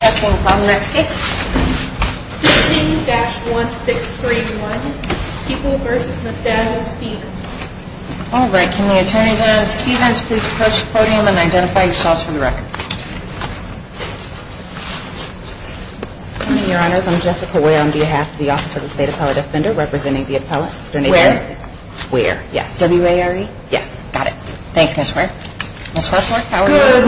I'm Jessica Ware on behalf of the Office of the State Appellate Defender representing the appellate. Where? Where, yes. W-A-R-E? Yes. Got it. Ms. Wessler, how are you? Good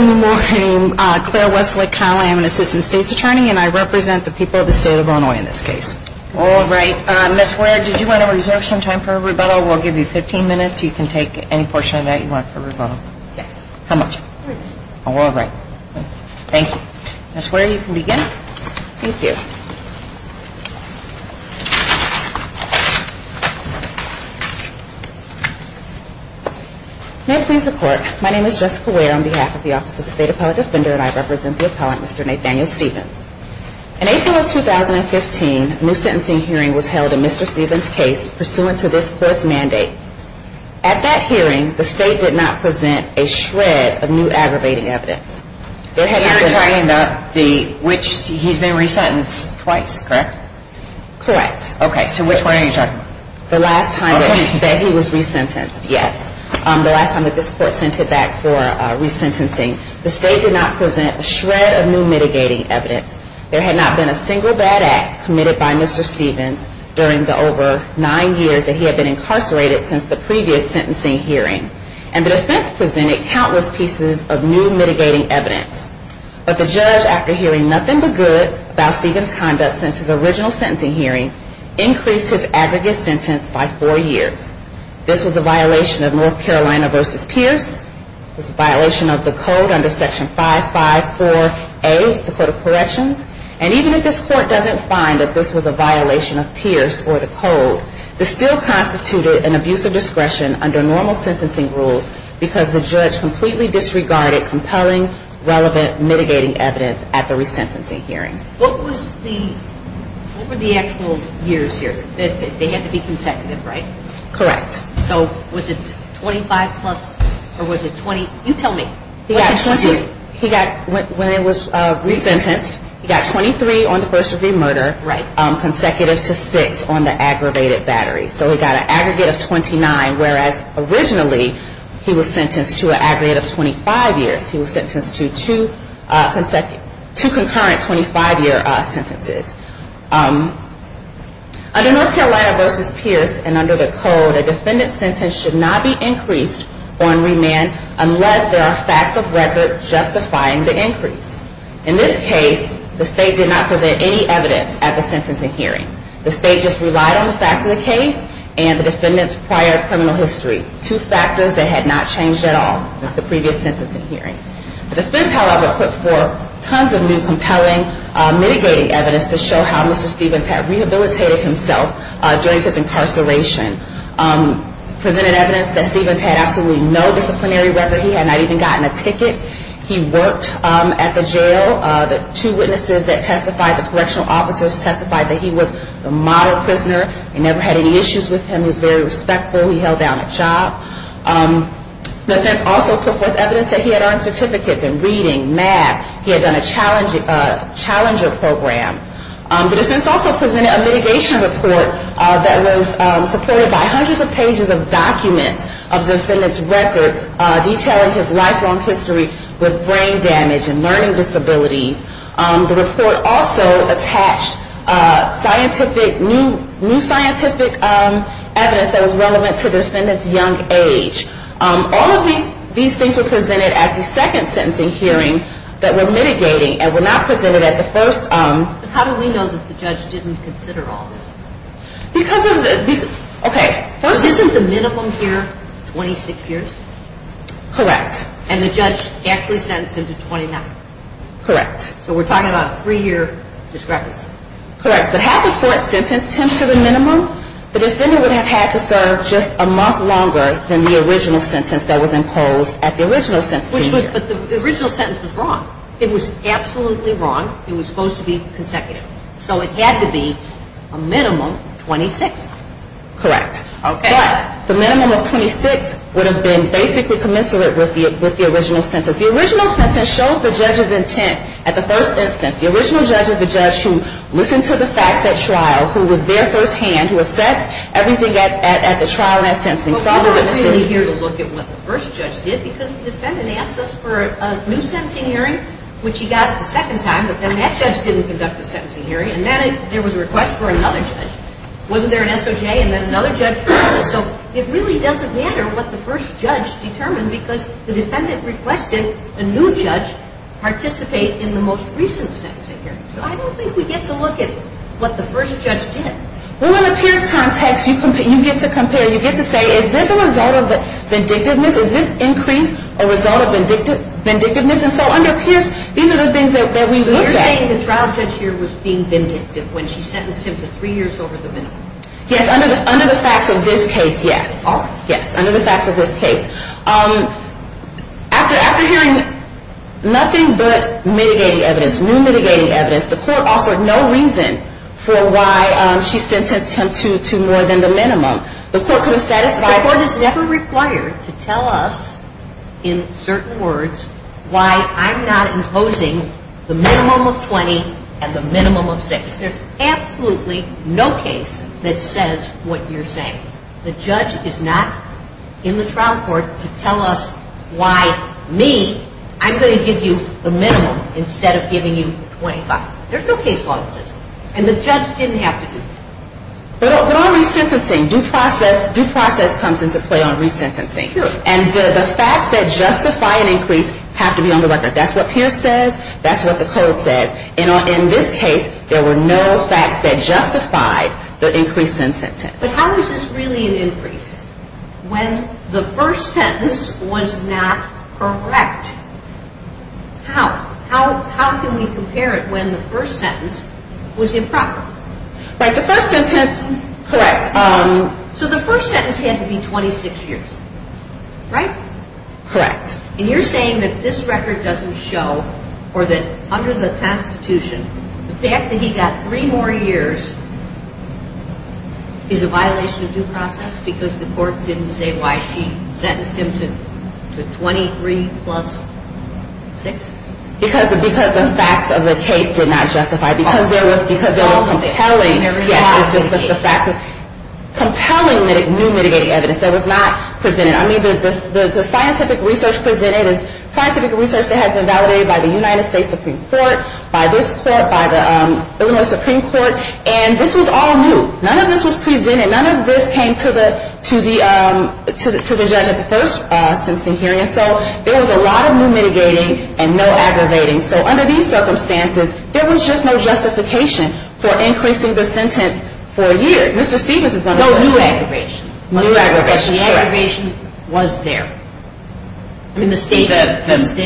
morning. Claire Wessler Kyle. I am an assistant state's attorney and I represent the people of the state of Illinois in this case. All right. Ms. Ware, did you want to reserve some time for rebuttal? We'll give you 15 minutes. You can take any portion of that you want for rebuttal. Yes. How much? Three minutes. All right. Thank you. Ms. Ware, you can begin. Thank you. May I please report? My name is Jessica Ware on behalf of the Office of the State Appellate Defender and I represent the appellate, Mr. Nathaniel Stephens. In April of 2015, a new sentencing hearing was held in Mr. Stephens' case pursuant to this court's mandate. At that hearing, the state did not present a shred of new aggravating evidence. You're talking about which he's been re-sentenced twice, correct? Correct. Okay. So which one are you talking about? The last time that he was re-sentenced, yes. The last time that this court sent him back for re-sentencing. The state did not present a shred of new mitigating evidence. There had not been a single bad act committed by Mr. Stephens during the over nine years that he had been incarcerated since the previous sentencing hearing. And the defense presented countless pieces of new mitigating evidence. But the judge, after hearing nothing but good about Stephens' conduct since his original sentencing hearing, increased his aggregate sentence by four years. This was a violation of North Carolina v. Pierce, it was a violation of the code under Section 554A, the Code of Corrections, and even if this court doesn't find that this was a violation of Pierce or the code, this still constituted an abuse of discretion under normal sentencing rules because the judge completely disregarded compelling, relevant mitigating evidence at the re-sentencing hearing. What were the actual years here? They had to be consecutive, right? Correct. So was it 25 plus, or was it 20? You tell me. What did he do? He got, when he was re-sentenced, he got 23 on the first degree murder, consecutive to six on the aggravated battery. So he got an aggregate of 29, whereas originally he was sentenced to an aggregate of 25 years. He was sentenced to two concurrent 25 year sentences. Under North Carolina v. Pierce and under the code, a defendant's sentence should not be increased or remanded unless there are facts of record justifying the increase. In this case, the state did not present any evidence at the sentencing hearing. The state just relied on the facts of the case and the defendant's prior criminal history, two factors that had not changed at all since the previous sentencing hearing. The defense, however, put forth tons of new compelling mitigating evidence to show how Mr. Stevens had rehabilitated himself during his incarceration. Presented evidence that Stevens had absolutely no disciplinary record. He had not even gotten a ticket. He worked at the jail. The two witnesses that testified, the correctional officers testified that he was a model prisoner. They never had any issues with him. He was very respectful. He held down a job. The defense also put forth evidence that he had earned certificates in reading, math. He had done a challenger program. The defense also presented a mitigation report that was supported by hundreds of pages of documents of the defendant's records detailing his lifelong history with brain damage and learning disabilities. The report also attached scientific, new scientific evidence that was relevant to the defendant's young age. All of these things were presented at the second sentencing hearing that were mitigating and were not presented at the first. But how do we know that the judge didn't consider all this? Because of the, okay. First, isn't the minimum here 26 years? Correct. And the judge actually sentenced him to 29? Correct. So we're talking about a three-year discrepancy. Correct. But had the court sentenced him to the minimum, the defendant would have had to serve just a month longer than the original sentence that was imposed at the original sentencing. But the original sentence was wrong. It was absolutely wrong. It was supposed to be consecutive. So it had to be a minimum 26. Correct. Okay. But the minimum of 26 would have been basically commensurate with the original sentence. The original sentence showed the judge's intent at the first instance. The original judge is the judge who listened to the facts at trial, who was there firsthand, who assessed everything at the trial. Well, we're not really here to look at what the first judge did because the defendant asked us for a new sentencing hearing, which he got the second time. But then that judge didn't conduct the sentencing hearing. And then there was a request for another judge. Wasn't there an SOJ and then another judge? So it really doesn't matter what the first judge determined because the defendant requested a new judge participate in the most recent sentencing hearing. So I don't think we get to look at what the first judge did. Well, in the Pierce context, you get to compare, you get to say, is this a result of vindictiveness? Is this increase a result of vindictiveness? And so under Pierce, these are the things that we looked at. So you're saying the trial judge here was being vindictive when she sentenced him to three years over the minimum? Yes, under the facts of this case, yes. All right. Yes, under the facts of this case. After hearing nothing but mitigating evidence, new mitigating evidence, the court offered no reason for why she sentenced him to more than the minimum. The court could have satisfied... The court is never required to tell us, in certain words, why I'm not imposing the minimum of 20 and the minimum of 6. There's absolutely no case that says what you're saying. The judge is not in the trial court to tell us why me, I'm going to give you the minimum instead of giving you 25. There's no case law that says that. And the judge didn't have to do that. But on resentencing, due process comes into play on resentencing. Sure. And the facts that justify an increase have to be on the record. That's what Pierce says, that's what the code says. In this case, there were no facts that justified the increase in sentence. But how is this really an increase? When the first sentence was not correct. How? How can we compare it when the first sentence was improper? Like the first sentence... Correct. So the first sentence had to be 26 years. Right? Correct. And you're saying that this record doesn't show, or that under the Constitution, the fact that he got three more years is a violation of due process because the court didn't say why he sentenced him to 23 plus 6? Because the facts of the case did not justify it. Because they were compelling. Yes, it's just the facts. Compelling new mitigating evidence that was not presented. I mean, the scientific research presented is scientific research that has been validated by the United States Supreme Court, by this court, by the Illinois Supreme Court, and this was all new. None of this was presented. None of this came to the judge at the first sentencing hearing. So there was a lot of new mitigating and no aggravating. So under these circumstances, there was just no justification for increasing the sentence for years. Mr. Stevens is going to tell you. No new aggravation. New aggravation, correct. But the aggravation was there. I mean, the state... The facts of the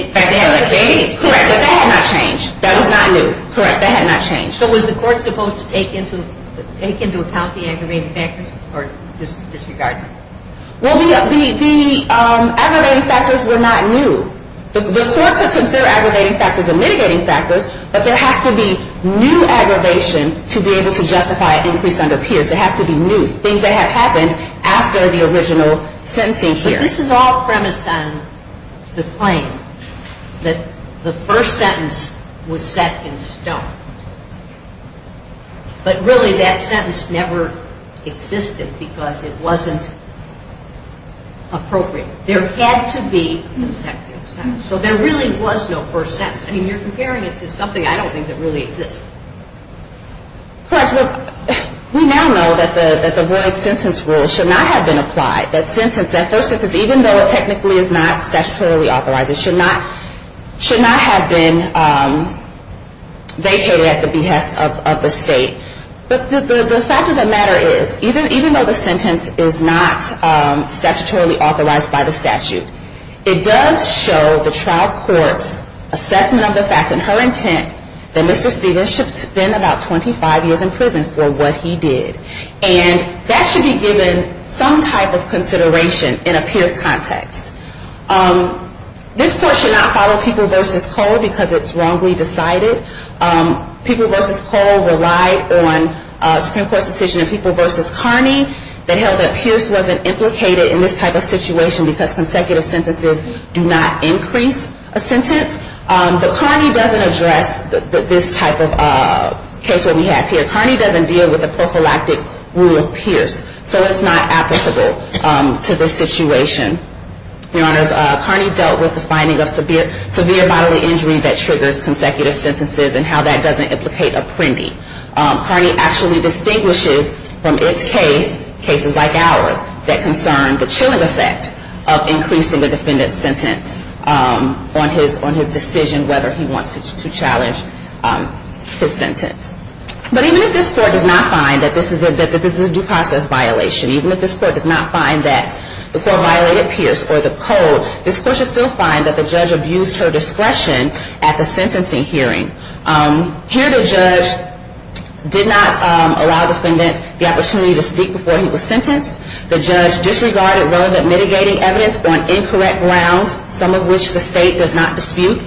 case, correct. But that had not changed. That was not new. Correct. That had not changed. So was the court supposed to take into account the aggravating factors or disregard them? Well, the aggravating factors were not new. The courts would consider aggravating factors and mitigating factors, but there has to be new aggravation to be able to justify an increase under peers. There has to be new things that have happened after the original sentencing hearing. But this is all premised on the claim that the first sentence was set in stone. But really, that sentence never existed because it wasn't appropriate. There had to be a second sentence. So there really was no first sentence. I mean, you're comparing it to something I don't think that really exists. Correct. We now know that the void sentence rule should not have been applied. That first sentence, even though it technically is not statutorily authorized, it should not have been vacated at the behest of the state. But the fact of the matter is, even though the sentence is not statutorily authorized by the statute, it does show the trial court's assessment of the facts and her intent that Mr. Stevens should spend about 25 years in prison for what he did. And that should be given some type of consideration in a peers context. This court should not follow People v. Cole because it's wrongly decided. People v. Cole relied on Supreme Court's decision in People v. Carney that held that Pierce wasn't implicated in this type of situation because consecutive sentences do not increase a sentence. But Carney doesn't address this type of case that we have here. Carney doesn't deal with the prophylactic rule of Pierce. So it's not applicable to this situation. Your Honors, Carney dealt with the finding of severe bodily injury that triggers consecutive sentences and how that doesn't implicate Apprendi. Carney actually distinguishes from its case, cases like ours, that concern the chilling effect of increasing the defendant's sentence on his decision whether he wants to challenge his sentence. But even if this court does not find that this is a due process violation, even if this court does not find that the court violated Pierce or the code, this court should still find that the judge abused her discretion at the sentencing hearing. Here the judge did not allow the defendant the opportunity to speak before he was sentenced. The judge disregarded relevant mitigating evidence on incorrect grounds, some of which the state does not dispute.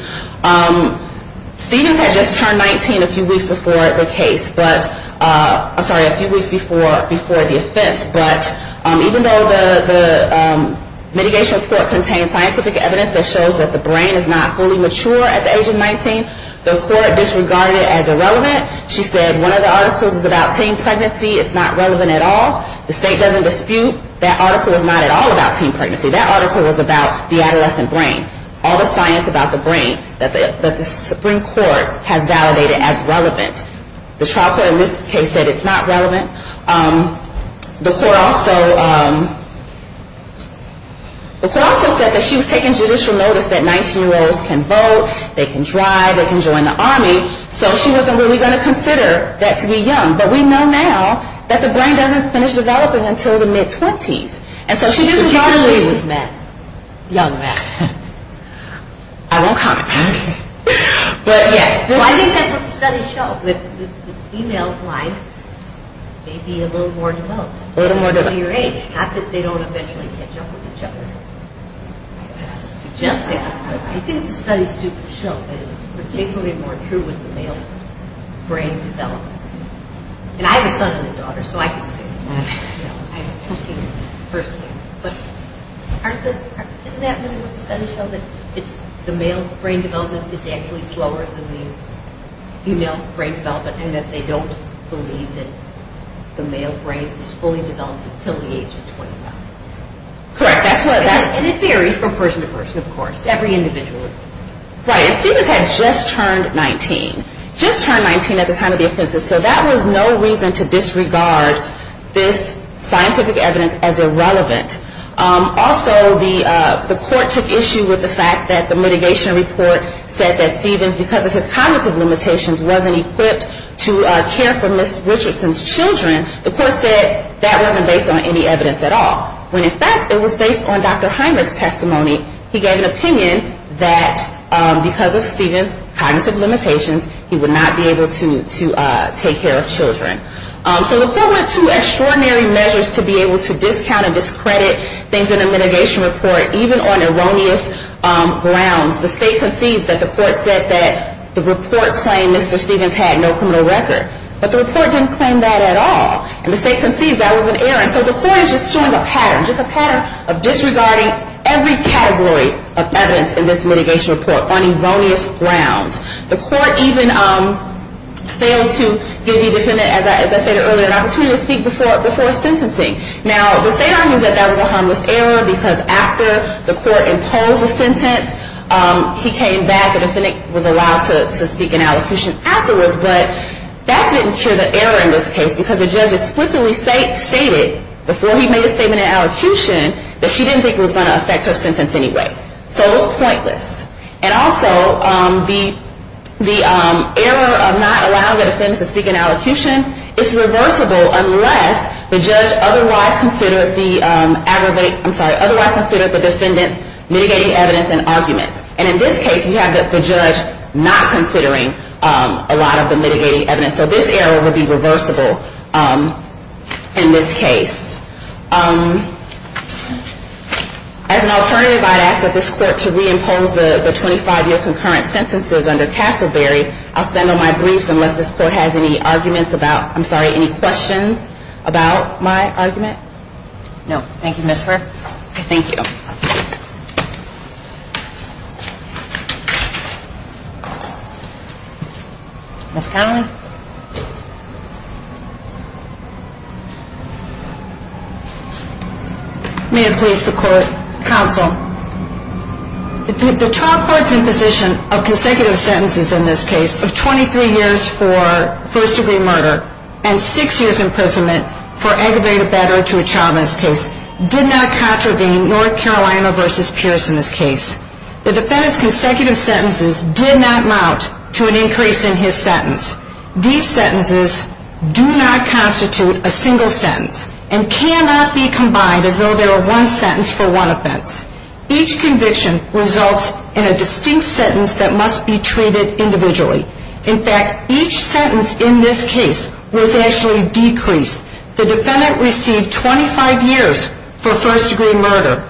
Stevens had just turned 19 a few weeks before the case. I'm sorry, a few weeks before the offense. But even though the mitigation report contains scientific evidence that shows that the brain is not fully mature at the age of 19, the court disregarded it as irrelevant. She said one of the articles is about teen pregnancy, it's not relevant at all. The state doesn't dispute that article is not at all about teen pregnancy. That article was about the adolescent brain. All the science about the brain that the Supreme Court has validated as relevant. The trial court in this case said it's not relevant. The court also said that she was taking judicial notice that 19 year olds can vote, they can drive, they can join the army. So she wasn't really going to consider that to be young. But we know now that the brain doesn't finish developing until the mid-twenties. And so she just was not... You can leave with Matt. Young Matt. I won't comment. I think that's what the studies show, that the female blind may be a little more developed at a later age. Not that they don't eventually catch up with each other. I think the studies do show that it's particularly more true with the male brain development. And I have a son and a daughter, so I can say that. I've seen it personally. But isn't that really what the studies show? That the male brain development is actually slower than the female brain development and that they don't believe that the male brain is fully developed until the age of 29. Correct. And it varies from person to person, of course. Every individual is different. Right. And Stephens had just turned 19. Just turned 19 at the time of the offenses. So that was no reason to disregard this scientific evidence as irrelevant. Also, the court took issue with the fact that the mitigation report said that Stephens, because of his cognitive limitations, wasn't equipped to care for Ms. Richardson's children. The court said that wasn't based on any evidence at all. When in fact, it was based on Dr. Heinrich's testimony. He gave an opinion that because of Stephens' cognitive limitations, he would not be able to take care of children. So the court went to extraordinary measures to be able to discount and discredit things in the mitigation report, even on erroneous grounds. The state concedes that the court said that the report claimed Mr. Stephens had no criminal record. But the report didn't claim that at all. And the state concedes that was an error. So the court is just showing a pattern, just a pattern of disregarding every category of evidence in this mitigation report on erroneous grounds. The court even failed to give the defendant, as I stated earlier, an opportunity to speak before sentencing. Now, the state argues that that was a harmless error because after the court imposed a sentence, he came back, the defendant was allowed to speak in allocution afterwards, but that didn't cure the error in this case because the judge explicitly stated before he made a statement in allocution that she didn't think it was going to affect her sentence anyway. So it was pointless. And also, the error of not allowing the defendant to speak in allocution is reversible unless the judge otherwise considered the aggravated, I'm sorry, otherwise considered the defendant's mitigating evidence and arguments. And in this case, we have the judge not considering a lot of the mitigating evidence. So this error would be reversible in this case. As an alternative, I'd ask that this court to reimpose the 25-year concurrent sentences under Castleberry. I'll stand on my briefs unless this court has any arguments about, I'm sorry, any questions about my argument. No. Thank you, Ms. Burke. Thank you. Thank you. Ms. Connelly? May it please the court, counsel. The trial court's imposition of consecutive sentences in this case of 23 years for first-degree murder and six years imprisonment for aggravated battery to a child miscase did not contravene North Carolina v. Pierce in this case. The defendant's consecutive sentences did not amount to an increase in his sentence. These sentences do not constitute a single sentence and cannot be combined as though they are one sentence for one offense. Each conviction results in a distinct sentence that must be treated individually. In fact, each sentence in this case was actually decreased. The defendant received 25 years for first-degree murder.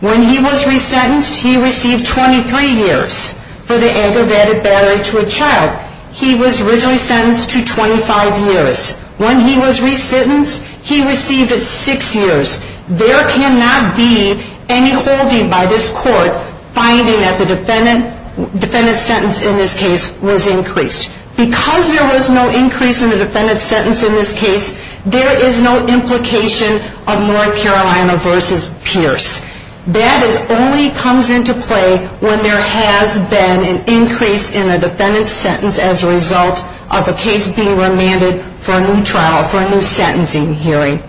When he was resentenced, he received 23 years for the aggravated battery to a child. He was originally sentenced to 25 years. When he was resentenced, he received six years. There cannot be any holding by this court finding that the defendant's sentence Because there was no increase in the defendant's sentence in this case, there is no implication of North Carolina v. Pierce. That only comes into play when there has been an increase in the defendant's sentence as a result of a case being remanded for a new trial, for a new sentencing hearing.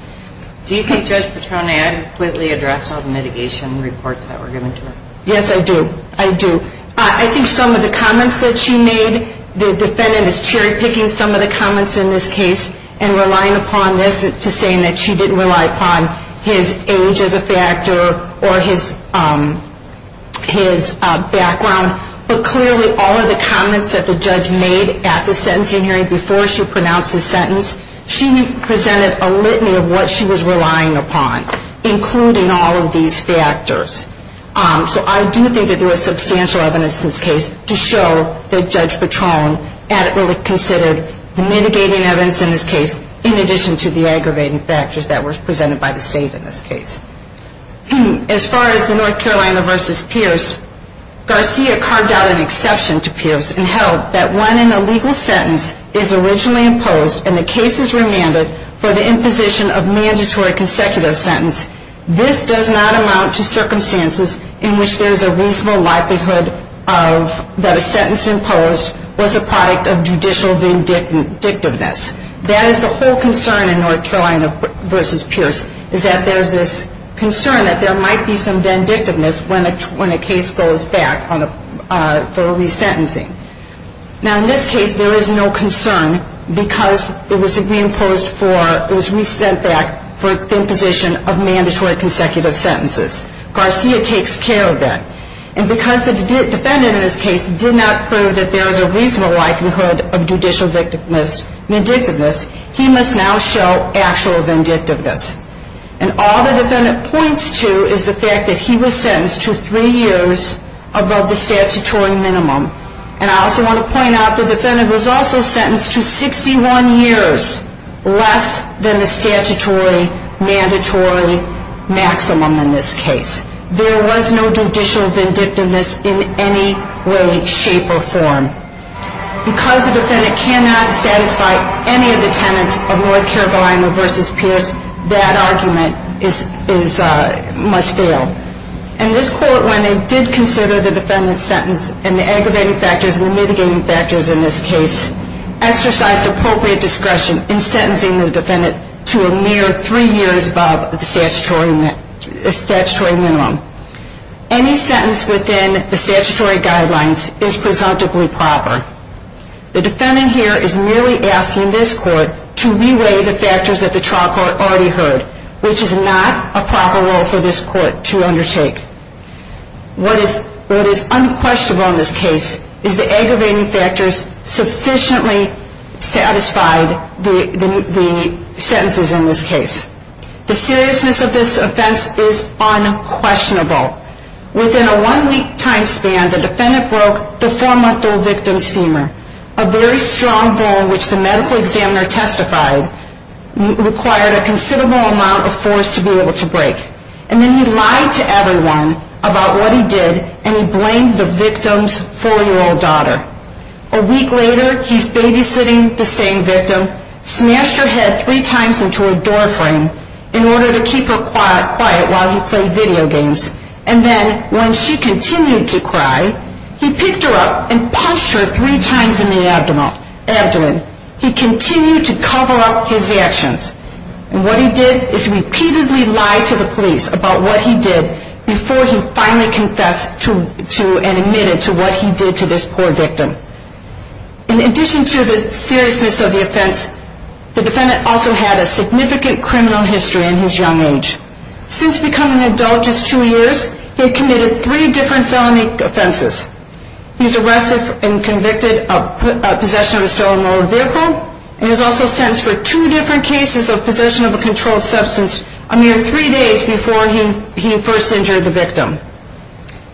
Do you think Judge Petroni adequately addressed all the mitigation reports that were given to her? Yes, I do. I do. I think some of the comments that she made, the defendant is cherry-picking some of the comments in this case and relying upon this to say that she didn't rely upon his age as a factor or his background. But clearly, all of the comments that the judge made at the sentencing hearing before she pronounced the sentence, she presented a litany of what she was relying upon, including all of these factors. So I do think that there was substantial evidence in this case to show that Judge Petroni adequately considered the mitigating evidence in this case in addition to the aggravating factors that were presented by the state in this case. As far as the North Carolina v. Pierce, Garcia carved out an exception to Pierce and held that when an illegal sentence is originally imposed and the case is remanded for the imposition of a mandatory consecutive sentence, this does not amount to circumstances in which there is a reasonable likelihood that a sentence imposed was a product of judicial vindictiveness. That is the whole concern in North Carolina v. Pierce is that there is this concern that there might be some vindictiveness when a case goes back for resentencing. Now, in this case, there is no concern because it was re-imposed for, it was resent back for the imposition of mandatory consecutive sentences. Garcia takes care of that. And because the defendant in this case did not prove that there was a reasonable likelihood of judicial vindictiveness, he must now show actual vindictiveness. And all the defendant points to is the fact that he was sentenced to three years above the statutory minimum. And I also want to point out the defendant was also sentenced to 61 years less than the statutory mandatory maximum in this case. There was no judicial vindictiveness in any way, shape or form. Because the defendant cannot satisfy any of the tenets of North Carolina v. Pierce, that argument must fail. And this court, when it did consider the defendant's sentence and the aggravating factors and the mitigating factors in this case, exercised appropriate discretion in sentencing the defendant to a mere three years above the statutory minimum. Any sentence within the statutory guidelines is presumptively proper. The defendant here is merely asking this court to re-weigh the factors that the trial court already heard, which is not a proper role for this court to undertake. What is unquestionable in this case is the aggravating factors sufficiently satisfied the sentences in this case. The seriousness of this offense is unquestionable. Within a one-week time span, the defendant broke the four-month-old victim's femur, a very strong bone which the medical examiner testified required a considerable amount of force to be able to break. And then he lied to everyone about what he did and he blamed the victim's four-year-old daughter. A week later, he's babysitting the same victim, smashed her head three times into a doorframe in order to keep her quiet while he played video games. And then when she continued to cry, he picked her up and punched her three times in the abdomen. He continued to cover up his actions. And what he did is repeatedly lie to the police about what he did before he finally confessed and admitted to what he did to this poor victim. In addition to the seriousness of the offense, the defendant also had a significant criminal history in his young age. Since becoming an adult just two years, he had committed three different felony offenses. He was arrested and convicted of possession of a stolen motor vehicle. He was also sentenced for two different cases of possession of a controlled substance a mere three days before he first injured the victim.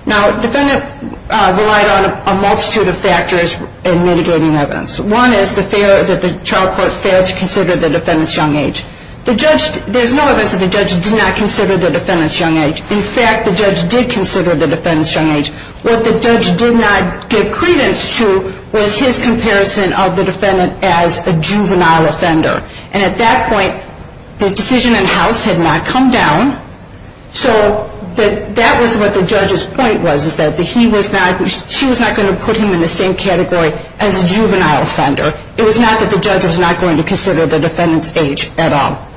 Now, the defendant relied on a multitude of factors in mitigating evidence. One is that the child court failed to consider the defendant's young age. There's no evidence that the judge did not consider the defendant's young age. In fact, the judge did consider the defendant's young age. What the judge did not give credence to was his comparison of the defendant as a juvenile offender. And at that point, the decision in house had not come down so that was what the judge's point was that she was not going to put him in the same category as a juvenile offender. It was not that the judge was not going to consider the defendant's age at all.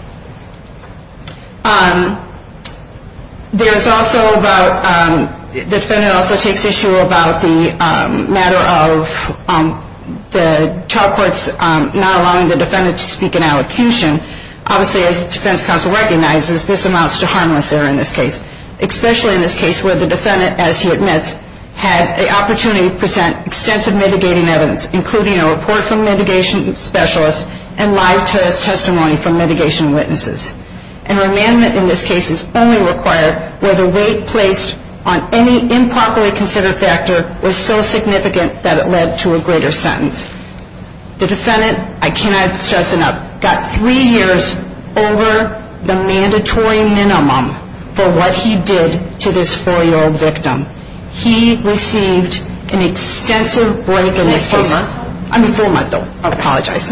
The defendant also takes issue about the matter of the child courts not allowing the defendant to speak in allocution. Obviously, as the defense counsel recognizes, this amounts to harmless error in this case. Especially in this case where the defendant, as he admits, had the opportunity to present extensive mitigating evidence including a report from mitigation specialists and live testimony from mitigation witnesses. And remandment in this case is only required where the weight placed on any improperly considered factor was so significant that it led to a greater sentence. The defendant, I cannot stress enough, got three years over the mandatory minimum for what he did to this four-year-old victim. He received an extensive break in his case. I mean full month though, I apologize.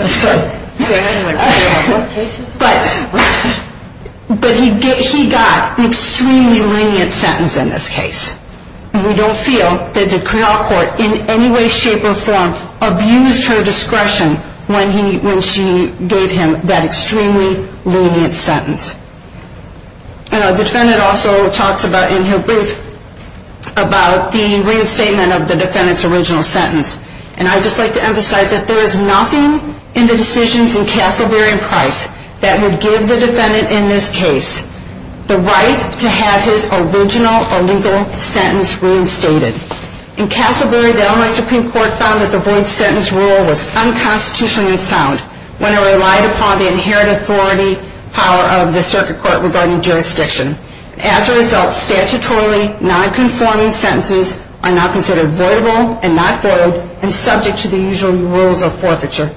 But he got an extremely lenient sentence in this case. We don't feel that the criminal court in any way, shape, or form abused her discretion when she gave him that extremely lenient sentence. The defendant also talks in her brief about the reinstatement of the defendant's original sentence. And I'd just like to emphasize that there is nothing in the decisions in Castleberry and Price that would give the defendant in this case the right to have his original illegal sentence reinstated. In Castleberry, the Illinois Supreme Court found that the void sentence rule was unconstitutionally sound when it relied upon the inherited authority power of the circuit court regarding jurisdiction. As a result, statutorily non-conforming sentences are now considered voidable and not voidable and subject to the usual rules of forfeiture.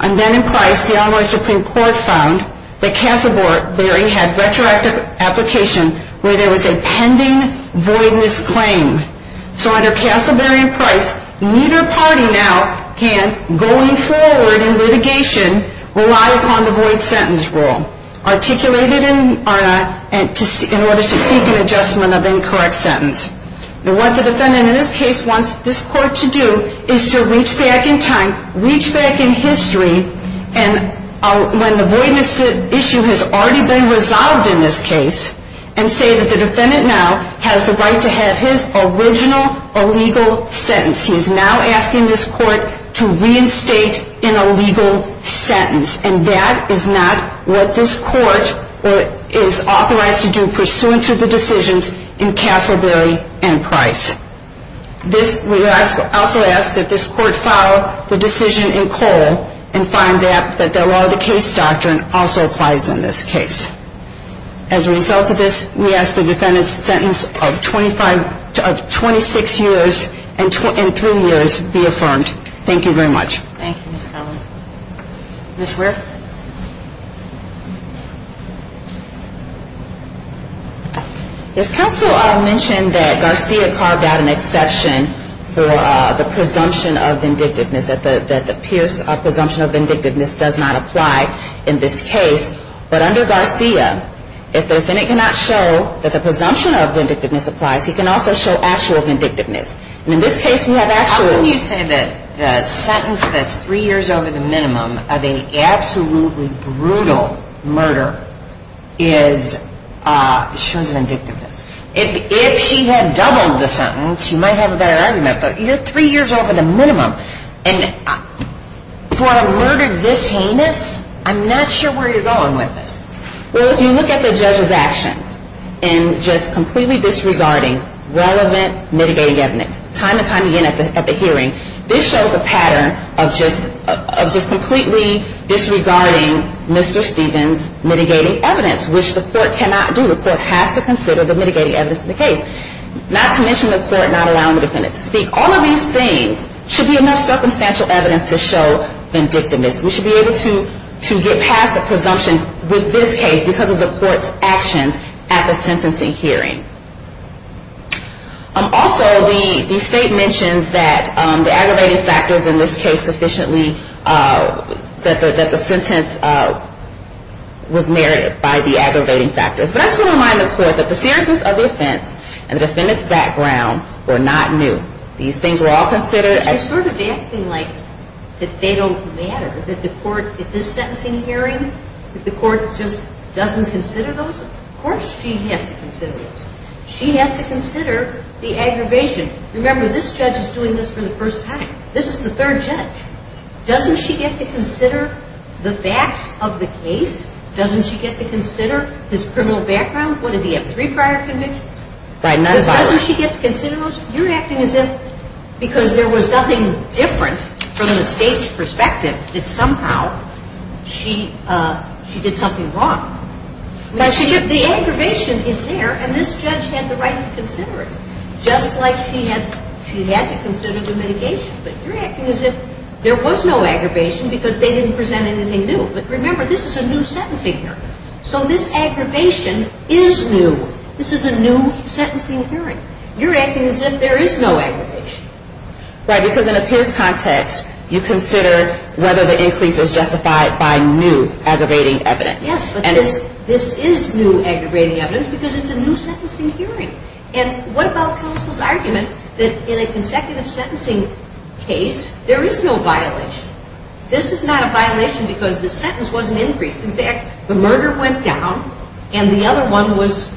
And then in Price, the Illinois Supreme Court found that Castleberry had retroactive application where there was a pending voidless claim. So under Castleberry and Price neither party now can, going forward in litigation, rely upon the void sentence rule articulated in order to seek an adjustment of incorrect sentence. What the defendant in this case wants this court to do is to reach back in time, reach back in history and when the voidness issue has already been resolved in this case and say that the defendant now has the right to have his original illegal sentence. He's now asking this court to reinstate an illegal sentence. And that is not what this court is authorized to do pursuant to the decisions in Castleberry and Price. This, we also ask that this court follow the decision in Cole and find that the law of the case doctrine also applies in this case. As a result of this, we ask the defendant's sentence of 26 years and 3 years be affirmed. Thank you very much. Ms. Ware? This counsel mentioned that Garcia carved out an exception for the presumption of vindictiveness that the Pierce presumption of vindictiveness does not apply in this case. But under Garcia, if the defendant cannot show that the presumption of vindictiveness applies he can also show actual vindictiveness. How can you say that the sentence that's 3 years over the minimum of an absolutely brutal murder shows vindictiveness? If she had doubled the sentence, you might have a better argument, but you're 3 years over the minimum and for a murder this heinous I'm not sure where you're going with this. Well, if you look at the judge's actions and just completely disregarding relevant mitigating evidence time and time again at the hearing this shows a pattern of just completely disregarding Mr. Stevens mitigating evidence which the court cannot do. The court has to consider the mitigating evidence of the case. Not to mention the court not allowing the defendant to speak. All of these things should be enough circumstantial evidence to show vindictiveness. We should be able to get past the presumption with this case because of the court's actions at the sentencing hearing. Also, the state mentions that the aggravating factors in this case sufficiently that the sentence was merited by the aggravating factors but I just want to remind the court that the seriousness of the offense and the defendant's background were not new. These things were all considered as they don't matter at this sentencing hearing the court just doesn't consider those of course she has to consider those she has to consider the aggravation remember this judge is doing this for the first time this is the third judge doesn't she get to consider the facts of the case doesn't she get to consider his criminal background doesn't she get to consider those you're acting as if because there was nothing different from the state's perspective that somehow she did something wrong the aggravation is there and this judge had the right to consider it just like she had to consider the mitigation but you're acting as if there was no aggravation because they didn't present anything new but remember this is a new sentencing hearing so this aggravation is new this is a new sentencing hearing you're acting as if there is no aggravation right because in a Pierce context you consider whether the increase is justified by new aggravating evidence yes but this is new aggravating evidence because it's a new sentencing hearing and what about counsel's argument that in a consecutive sentencing case there is no violation this is not a violation because the sentence wasn't increased in fact the murder went down and the other one was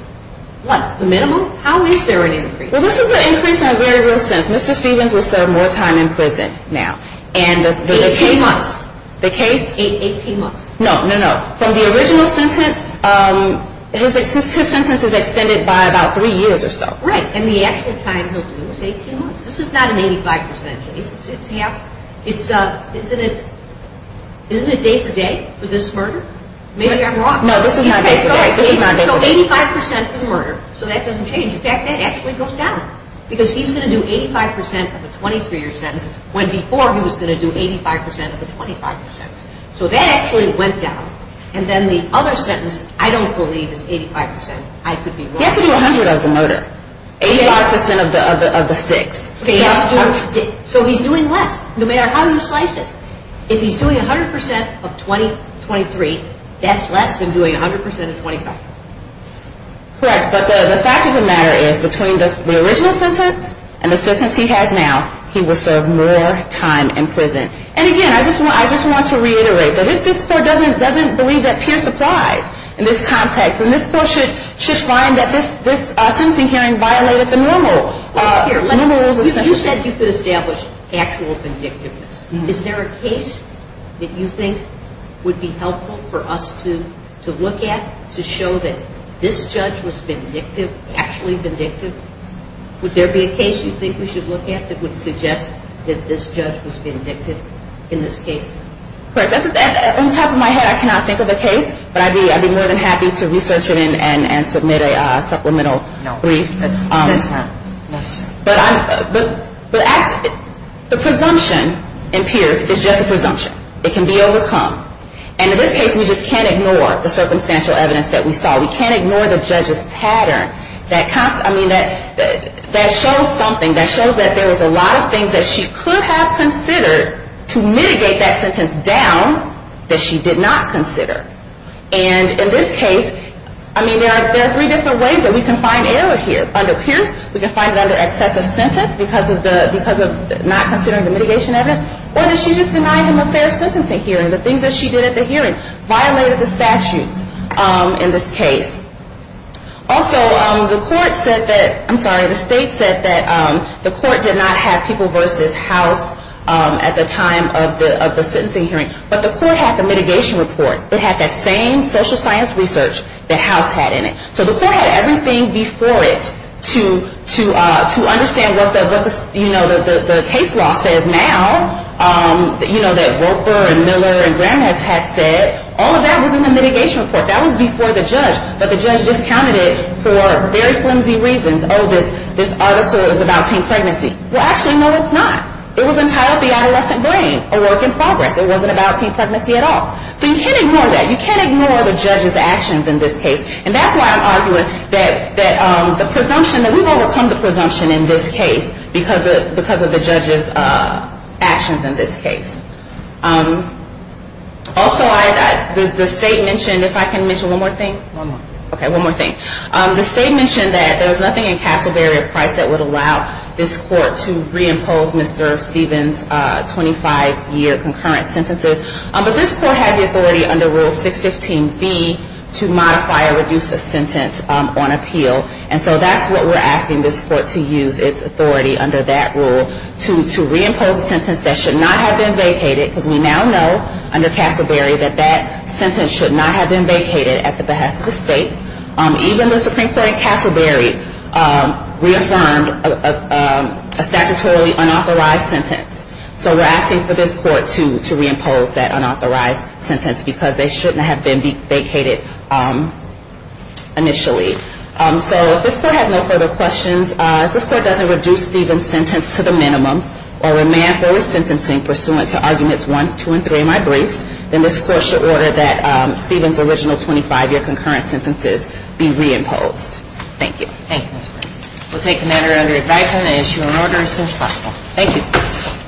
what the minimum how is there an increase well this is an increase in a very real sense Mr. Stevens will serve more time in prison now 18 months no from the original sentence his sentence is extended by about 3 years and the actual time he'll do is 18 months this is not an 85% increase isn't it day for day for this murder so 85% for the murder so that doesn't change in fact that actually goes down because he's going to do 85% of a 23 year sentence when before he was going to do 85% of a 25 year sentence so that actually went down and then the other sentence I don't believe is 85% he has to do 100% of the murder 85% of the 6 so he's doing less no matter how you slice it if he's doing 100% of 23 that's less than doing 100% of 25 correct but the fact of the matter is between the original sentence and the sentence he has now he will serve more time in prison and again I just want to reiterate that if this court doesn't believe that Pierce applies in this context then this court should find that this sentencing hearing violated the normal you said you could establish actual vindictiveness is there a case that you think would be helpful for us to look at to show that this judge was vindictive actually vindictive would there be a case you think we should look at that would suggest that this judge was vindictive on top of my head I cannot think of a case but I'd be more than happy to research it and submit a supplemental brief but the presumption in Pierce is just a presumption it can be overcome and in this case we just can't ignore the circumstantial evidence that we saw we can't ignore the judge's pattern that shows something that shows that there was a lot of things that she could have considered to mitigate that sentence down that she did not consider and in this case I mean there are three different ways that we can find error here under Pierce we can find it under excessive sentence because of not considering the mitigation evidence or did she just deny him a fair sentencing hearing the things that she did at the hearing violated the statutes in this case also the state said that the court did not have people versus house at the time of the sentencing hearing but the court had the mitigation report it had that same social science research that house had in it so the court had everything before it to understand what the case law says now that Roper and Miller and Grandness had said all of that was in the mitigation report that was before the judge but the judge discounted it for very flimsy reasons oh this article is about teen pregnancy well actually no it's not it was entitled the adolescent brain a work in progress it wasn't about teen pregnancy at all so you can't ignore that you can't ignore the judge's actions in this case and that's why I'm arguing that the presumption that we've overcome the presumption in this case because of the judge's actions in this case also the state mentioned if I can mention one more thing okay one more thing the state mentioned that there was nothing in Castleberry or Price that would allow this court to reimpose Mr. Stevens 25 year concurrent sentences but this court has the authority under rule 615B to modify or reduce a sentence on appeal and so that's what we're asking this court to use its authority under that rule to reimpose a sentence that should not have been vacated because we now know under Castleberry that that sentence should not have been vacated at the behest of the state even the Supreme Court in Castleberry reaffirmed a statutorily unauthorized sentence so we're asking for this court to reimpose that unauthorized sentence because they shouldn't have been vacated initially so if this court has no further questions if this court doesn't reduce Steven's sentence to the minimum or remand for his sentencing pursuant to arguments 1, 2, and 3 in my briefs, then this court should order that Steven's original 25 year concurrent sentences be reimposed. Thank you. We'll take the matter under advisement and issue an order as soon as possible. Thank you.